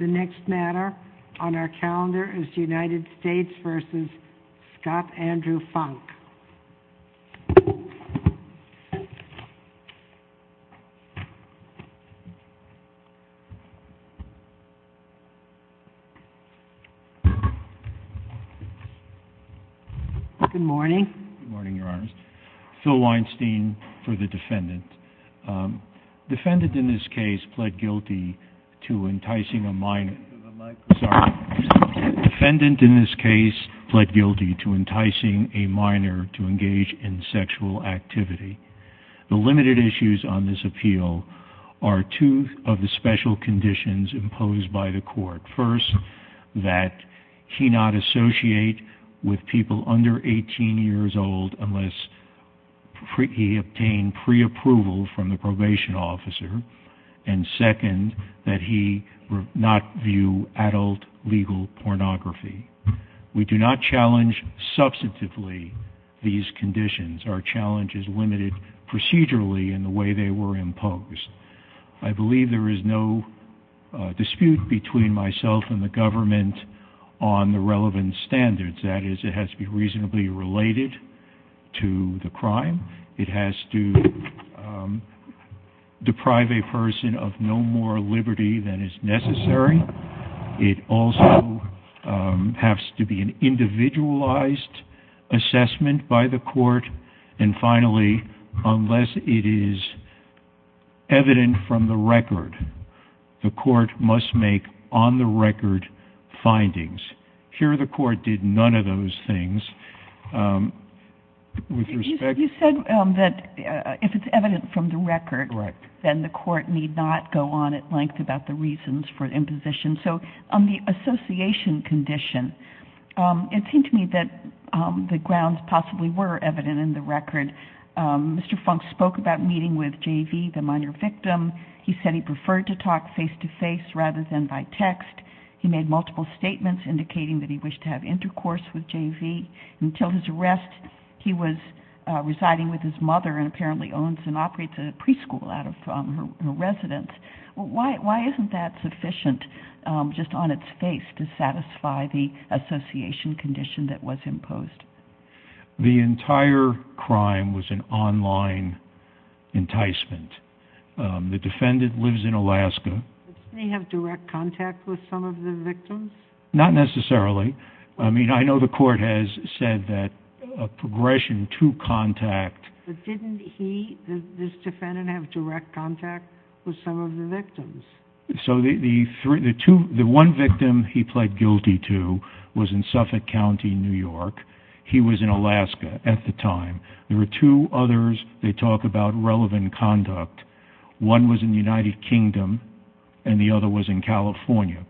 The next matter on our calendar is the United States v. Scott Andrew Funk. Good morning. Good morning, Your Honor. Phil Weinstein for the defendant. The defendant in this case pled guilty to enticing a minor to engage in sexual activity. The limited issues on this appeal are two of the special conditions imposed by the court. First, that he not associate with people under 18 years old unless he obtained preapproval from the probation officer. And second, that he not view adult legal pornography. We do not challenge substantively these conditions. Our challenge is limited procedurally in the way they were imposed. I believe there is no dispute between myself and the government on the relevant standards. That is, it has to be reasonably related to the crime. It has to deprive a person of no more liberty than is necessary. It also has to be an individualized assessment by the court. And finally, unless it is evident from the record, the court must make on-the-record findings. Here, the court did none of those things. You said that if it's evident from the record, then the court need not go on at length about the reasons for imposition. On the association condition, it seemed to me that the grounds possibly were evident in the record. Mr. Funk spoke about meeting with JV, the minor victim. He said he preferred to talk face-to-face rather than by text. He made multiple statements indicating that he wished to have intercourse with JV. Until his arrest, he was residing with his mother and apparently owns and operates a preschool out of her residence. Why isn't that sufficient, just on its face, to satisfy the association condition that was imposed? The entire crime was an online enticement. The defendant lives in Alaska. Didn't he have direct contact with some of the victims? Not necessarily. I mean, I know the court has said that a progression to contact... But didn't he, this defendant, have direct contact with some of the victims? So the one victim he pled guilty to was in Suffolk County, New York. He was in Alaska at the time. There were two others they talk about relevant conduct. One was in the United Kingdom and the other was in California.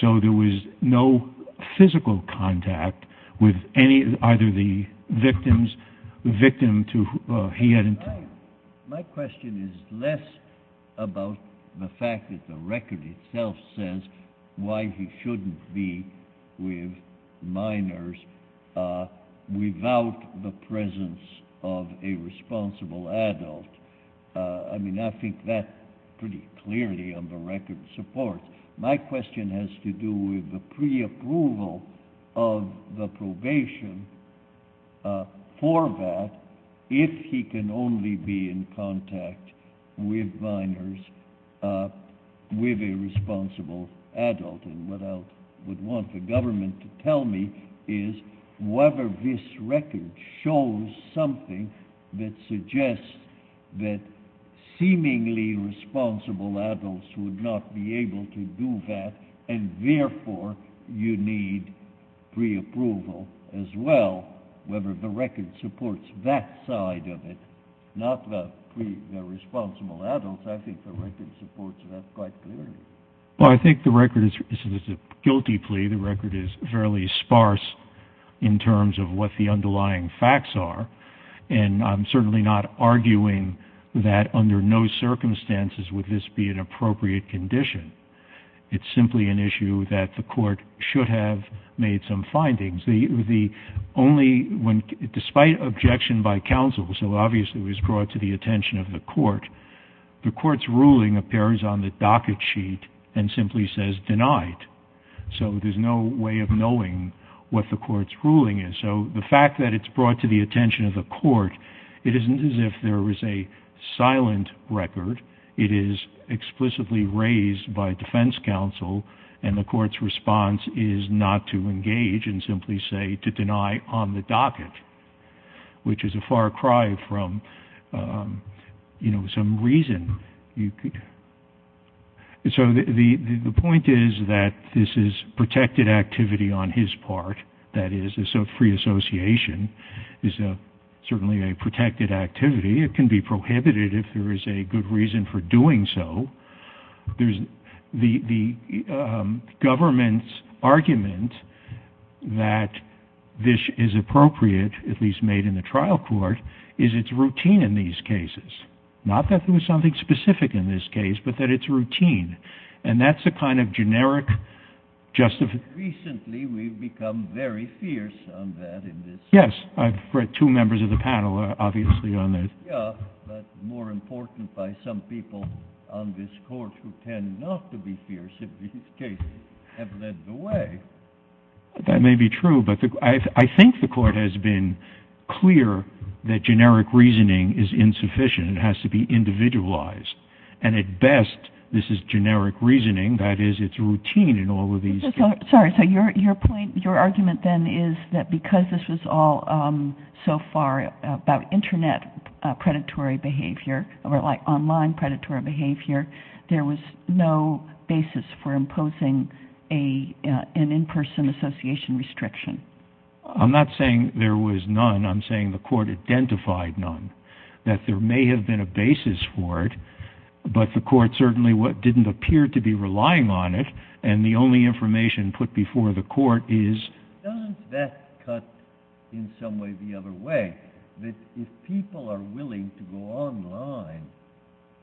So there was no physical contact with either the victims, the victim to whom he had... My question is less about the fact that the record itself says why he shouldn't be with minors without the presence of a responsible adult. I mean, I think that pretty clearly on the record supports. My question has to do with the pre-approval of the probation for that if he can only be in contact with minors with a responsible adult. And what I would want the government to tell me is whether this record shows something that suggests that seemingly responsible adults would not be able to do that and therefore you need pre-approval as well. Whether the record supports that side of it, not the responsible adults. I think the record supports that quite clearly. Well, I think the record is a guilty plea. The record is fairly sparse in terms of what the underlying facts are. And I'm certainly not arguing that under no circumstances would this be an appropriate condition. It's simply an issue that the court should have made some findings. The only one, despite objection by counsel, so obviously it was brought to the attention of the court, the court's ruling appears on the docket sheet and simply says denied. So there's no way of knowing what the court's ruling is. So the fact that it's brought to the attention of the court, it isn't as if there was a silent record. It is explicitly raised by defense counsel and the court's response is not to engage and simply say to deny on the docket, which is a far cry from, you know, some reason. So the point is that this is protected activity on his part, that is free association is certainly a protected activity. It can be prohibited if there is a good reason for doing so. The government's argument that this is appropriate, at least made in the trial court, is it's something specific in this case, but that it's routine. And that's a kind of generic justification. Recently, we've become very fierce on that in this. Yes. I've read two members of the panel are obviously on this. Yeah, but more important by some people on this court who tend not to be fierce in these cases have led the way. That may be true, but I think the court has been clear that generic reasoning is insufficient. It has to be individualized. And at best, this is generic reasoning, that is, it's routine in all of these. Sorry. So your point, your argument then is that because this was all so far about internet predatory behavior or like online predatory behavior, there was no basis for imposing an in-person association restriction. I'm not saying there was none. I'm saying the court identified none. That there may have been a basis for it, but the court certainly didn't appear to be relying on it. And the only information put before the court is... Doesn't that cut in some way the other way, that if people are willing to go online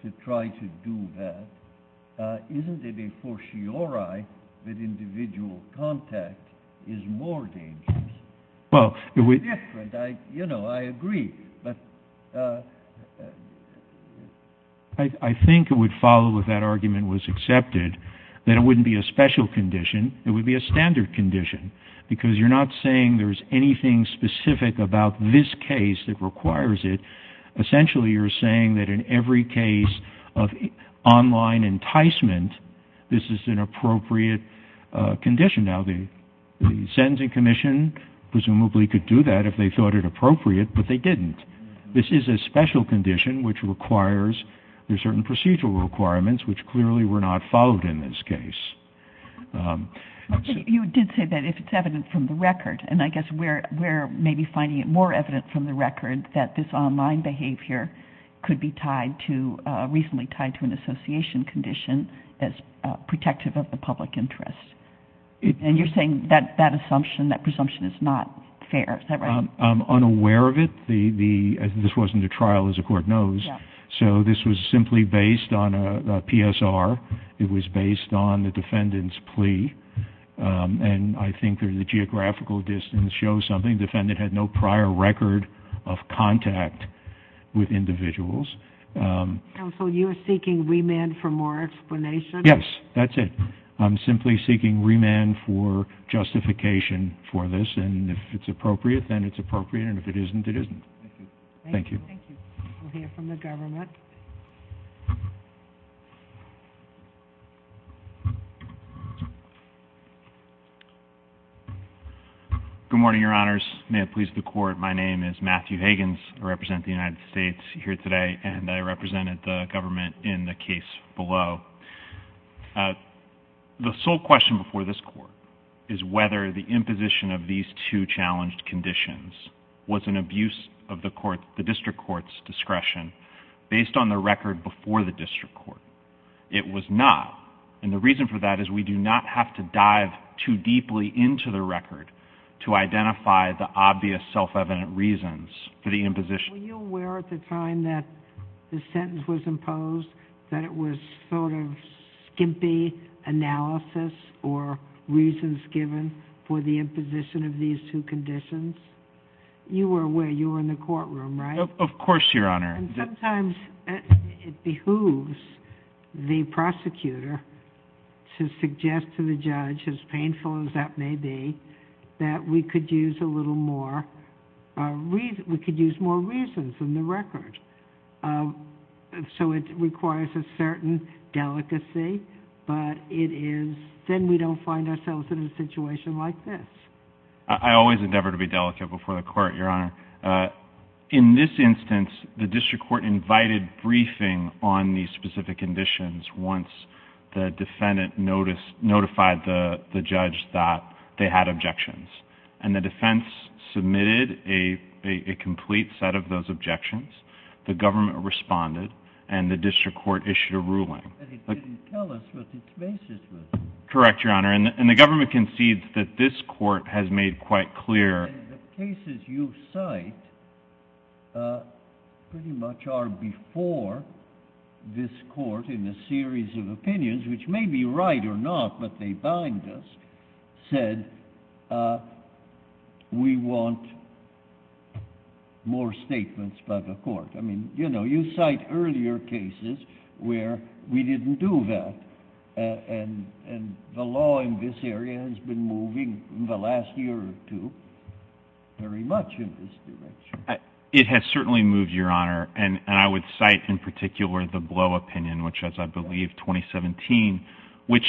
to try to do that, isn't it a fortiori that individual contact is more dangerous? Well... It's different. You know, I agree, but... I think it would follow if that argument was accepted that it wouldn't be a special condition. It would be a standard condition because you're not saying there's anything specific about this case that requires it. Essentially you're saying that in every case of online enticement, this is an appropriate condition. Now, the sentencing commission presumably could do that if they thought it appropriate, but they didn't. This is a special condition which requires certain procedural requirements which clearly were not followed in this case. You did say that if it's evident from the record, and I guess we're maybe finding it more evident from the record that this online behavior could be tied to... Recently tied to an association condition as protective of the public interest. And you're saying that that assumption, that presumption is not fair, is that right? I'm unaware of it. This wasn't a trial, as the court knows, so this was simply based on a PSR. It was based on the defendant's plea, and I think the geographical distance shows something. Defendant had no prior record of contact with individuals. Counsel, you're seeking remand for more explanation? Yes, that's it. I'm simply seeking remand for justification for this, and if it's appropriate, then it's appropriate, and if it isn't, it isn't. Thank you. Thank you. We'll hear from the government. Good morning, your honors. May it please the court, my name is Matthew Higgins. I represent the United States here today, and I represented the government in the case below. The sole question before this court is whether the imposition of these two challenged conditions was an abuse of the district court's discretion based on the record before the district court. It was not, and the reason for that is we do not have to dive too deeply into the record to identify the obvious self-evident reasons for the imposition. Were you aware at the time that the sentence was imposed that it was sort of skimpy analysis or reasons given for the imposition of these two conditions? You were aware. You were in the courtroom, right? Of course, your honor. Sometimes it behooves the prosecutor to suggest to the judge, as painful as that may be, that we could use a little more, we could use more reasons in the record. So it requires a certain delicacy, but it is, then we don't find ourselves in a situation like this. I always endeavor to be delicate before the court, your honor. In this instance, the district court invited briefing on these specific conditions once the defendant noticed, notified the judge that they had objections. And the defense submitted a complete set of those objections. The government responded and the district court issued a ruling. And it didn't tell us what the basis was. Correct, your honor. And the government concedes that this court has made quite clear. And the cases you cite pretty much are before this court in a series of opinions, which may be right or not, but they bind us, said we want more statements by the court. I mean, you know, you cite earlier cases where we didn't do that and the law in this area has been moving in the last year or two very much in this direction. It has certainly moved, your honor. And I would cite in particular the Blow opinion, which as I believe, 2017, which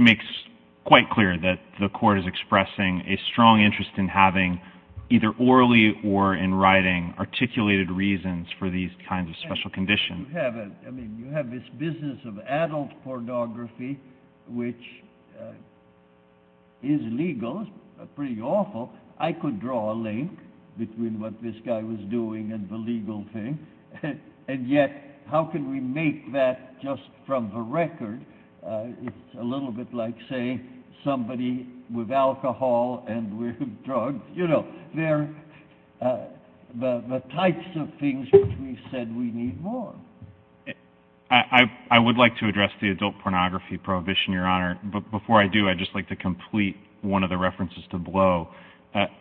makes quite clear that the court is expressing a strong interest in having either orally or in writing articulated reasons for these kinds of special conditions. You have this business of adult pornography, which is legal, it's pretty awful. I could draw a link between what this guy was doing and the legal thing. And yet, how can we make that just from the record, it's a little bit like, say, somebody with alcohol and with drugs, you know, they're the types of things which we said we need more. I would like to address the adult pornography prohibition, your honor. But before I do, I'd just like to complete one of the references to Blow.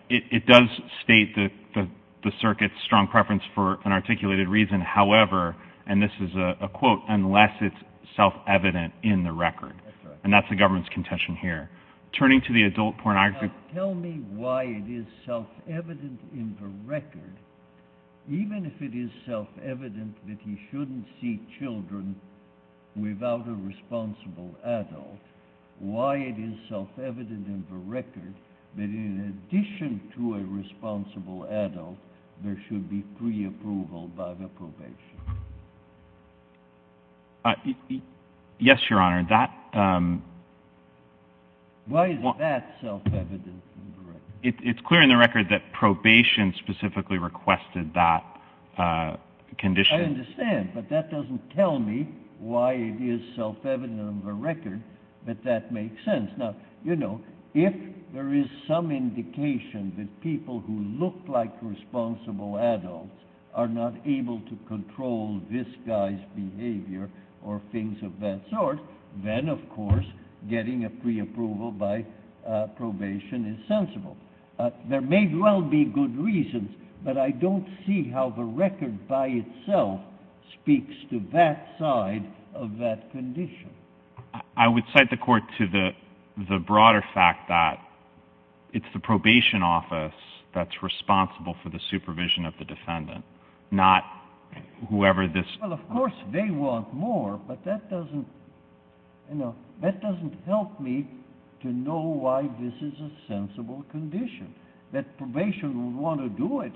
It does state that the circuit's strong preference for an articulated reason, however, and this is a quote, unless it's self-evident in the record. And that's the government's contention here. Turning to the adult pornography. Tell me why it is self-evident in the record, even if it is self-evident that he shouldn't see children without a responsible adult, why it is self-evident in the record that in addition to a responsible adult, there should be pre-approval by the probation. Yes, your honor. Why is that self-evident in the record? It's clear in the record that probation specifically requested that condition. I understand, but that doesn't tell me why it is self-evident in the record that that makes sense. Now, you know, if there is some indication that people who look like responsible adults are not able to control this guy's behavior or things of that sort, then, of course, getting a pre-approval by probation is sensible. There may well be good reasons, but I don't see how the record by itself speaks to that side of that condition. I would cite the court to the broader fact that it's the probation office that's responsible for the supervision of the defendant, not whoever this... Well, of course they want more, but that doesn't, you know, that doesn't help me to know why this is a sensible condition, that probation would want to do it,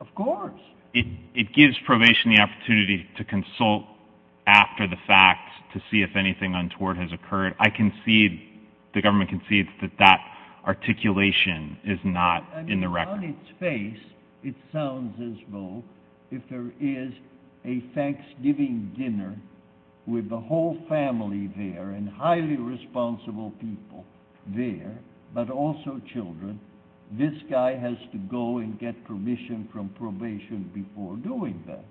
of course. It gives probation the opportunity to consult after the fact to see if anything untoward has occurred. I concede, the government concedes that that articulation is not in the record. On its face, it sounds as though if there is a Thanksgiving dinner with the whole family there and highly responsible people there, but also children, this guy has to go and get permission from probation before doing that.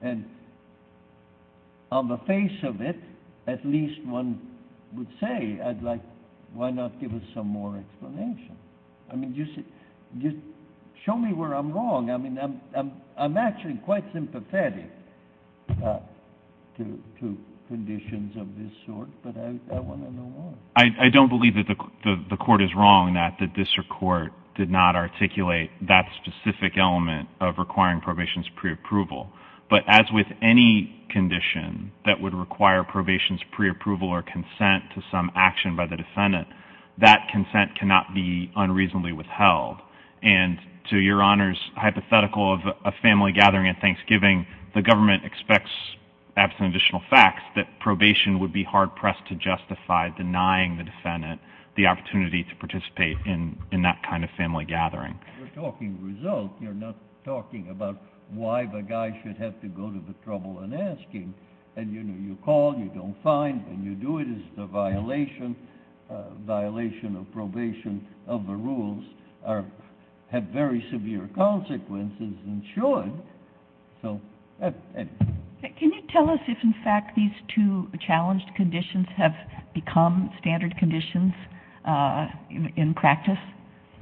And on the face of it, at least one would say, I'd like, why not give us some more explanation? I mean, just show me where I'm wrong. I mean, I'm actually quite sympathetic to conditions of this sort, but I want to know why. I don't believe that the court is wrong in that the district court did not articulate that specific element of requiring probation's preapproval, but as with any condition that would require probation's preapproval or consent to some action by the defendant, that consent cannot be unreasonably withheld. And to Your Honor's hypothetical of a family gathering at Thanksgiving, the government expects, absent additional facts, that probation would be hard-pressed to justify denying the defendant the opportunity to participate in that kind of family gathering. You're talking results. You're not talking about why the guy should have to go to the trouble in asking. And you know, you call, you don't find, and you do it as a violation, a violation of probation of the rules have very severe consequences and should. So that's it. Can you tell us if, in fact, these two challenged conditions have become standard conditions in practice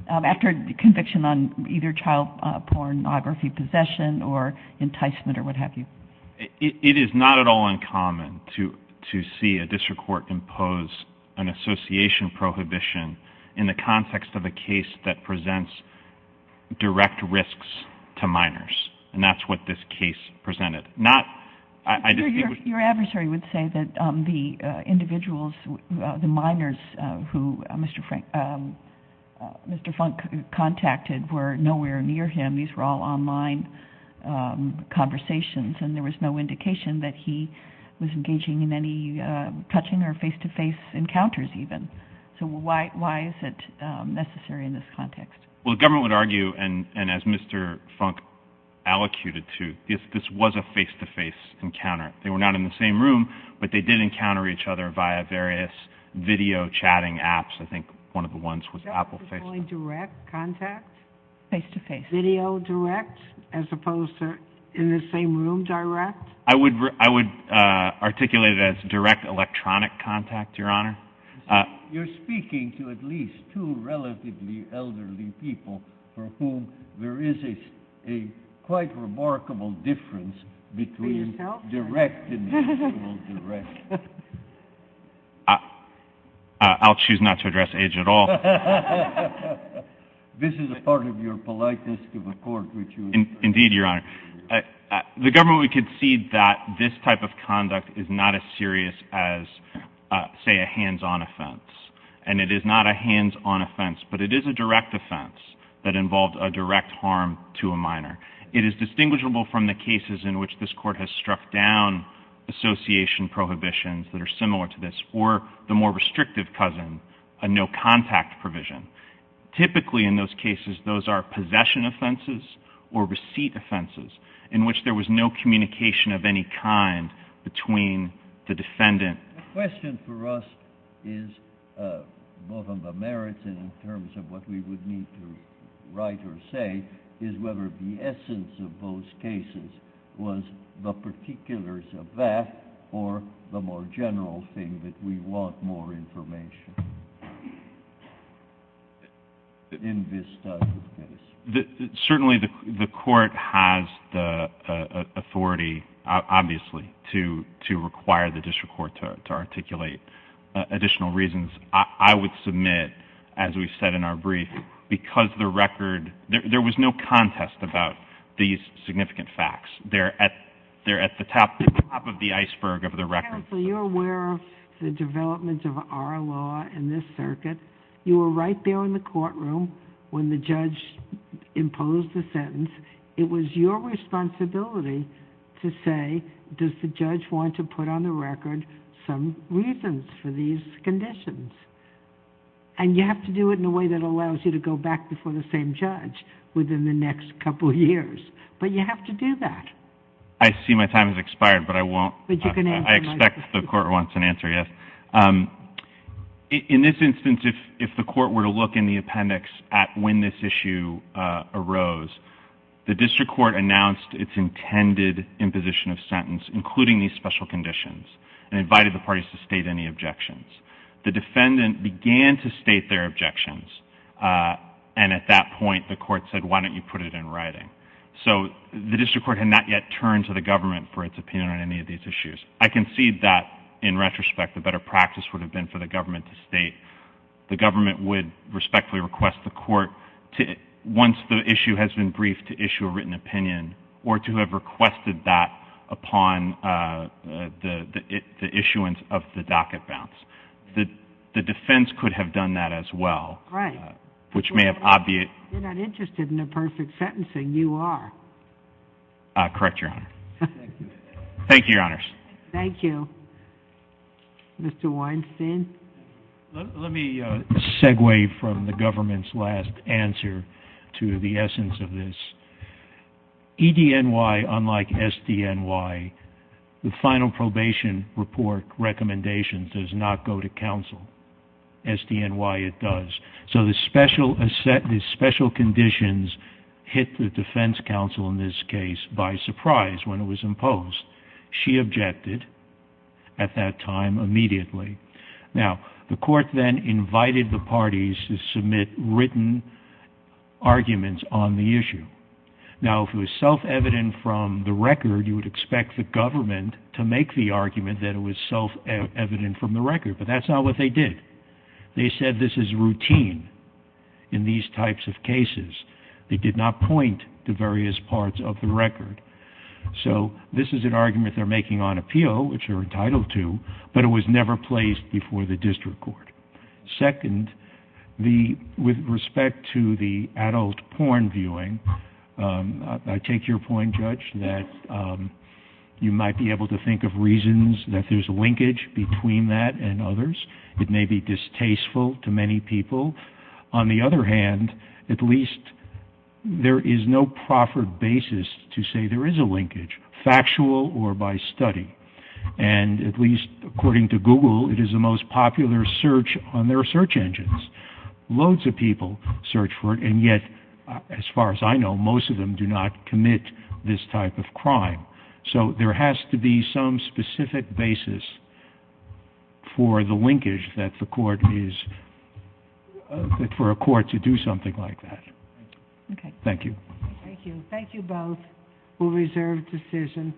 after conviction on either child pornography possession or enticement or what have you? It is not at all uncommon to see a district court impose an association prohibition in the context of a case that presents direct risks to minors. And that's what this case presented. Not, I just think... Your adversary would say that the individuals, the minors who Mr. Funk contacted were nowhere near him. These were all online conversations, and there was no indication that he was engaging in any touching or face-to-face encounters, even. So why is it necessary in this context? Well, the government would argue, and as Mr. Funk allocated to, this was a face-to-face encounter. They were not in the same room, but they did encounter each other via various video chatting apps. I think one of the ones was Apple FaceTime. Direct contact? Face-to-face. Video direct, as opposed to in the same room direct? I would articulate it as direct electronic contact, Your Honor. You're speaking to at least two relatively elderly people for whom there is a quite remarkable difference between direct and virtual direct. I'll choose not to address age at all. This is a part of your politeness to the court, which you... Indeed, Your Honor. The government would concede that this type of conduct is not as serious as, say, a hands-on offense. And it is not a hands-on offense, but it is a direct offense that involved a direct harm to a minor. It is distinguishable from the cases in which this court has struck down association prohibitions that are similar to this, or the more restrictive cousin, a no-contact provision. Typically, in those cases, those are possession offenses or receipt offenses in which there was no communication of any kind between the defendant... The question for us is, both on the merits and in terms of what we would need to write or say, is whether the essence of those cases was the particulars of that or the more general thing that we want more information in this type of case. Certainly the court has the authority, obviously, to require the district court to articulate additional reasons. I would submit, as we said in our brief, because the record... There was no contest about these significant facts. They're at the top of the iceberg of the record. Counsel, you're aware of the developments of our law in this circuit. You were right there in the courtroom when the judge imposed the sentence. It was your responsibility to say, does the judge want to put on the record some reasons for these conditions? You have to do it in a way that allows you to go back before the same judge within the next couple of years, but you have to do that. I see my time has expired, but I won't. I expect the court wants an answer, yes. In this instance, if the court were to look in the appendix at when this issue arose, the district court announced its intended imposition of sentence, including these special conditions, and invited the parties to state any objections. The defendant began to state their objections, and at that point, the court said, why don't you put it in writing? The district court had not yet turned to the government for its opinion on any of these issues. I concede that, in retrospect, the better practice would have been for the government to state. The government would respectfully request the court, once the issue has been briefed, to issue a written opinion, or to have requested that upon the issuance of the docket bounce. The defense could have done that as well, which may have obviated... You're not interested in a perfect sentencing. You are. Correct, Your Honor. Thank you, Your Honors. Thank you. Mr. Weinstein? Let me segue from the government's last answer to the essence of this. EDNY, unlike SDNY, the final probation report recommendation does not go to counsel. SDNY, it does. So the special conditions hit the defense counsel in this case by surprise when it was imposed. She objected at that time immediately. Now, the court then invited the parties to submit written arguments on the issue. Now, if it was self-evident from the record, you would expect the government to make the argument that it was self-evident from the record, but that's not what they did. They said this is routine in these types of cases. They did not point to various parts of the record. So this is an argument they're making on appeal, which they're entitled to, but it was never placed before the district court. Second, with respect to the adult porn viewing, I take your point, Judge, that you might be able to think of reasons that there's a linkage between that and others. It may be distasteful to many people. On the other hand, at least there is no proffered basis to say there is a linkage, factual or by study. And at least according to Google, it is the most popular search on their search engines. Loads of people search for it, and yet, as far as I know, most of them do not commit this type of crime. So there has to be some specific basis for the linkage that the court is, for a court to do something like that. Thank you. Thank you. Thank you both. We'll reserve decision.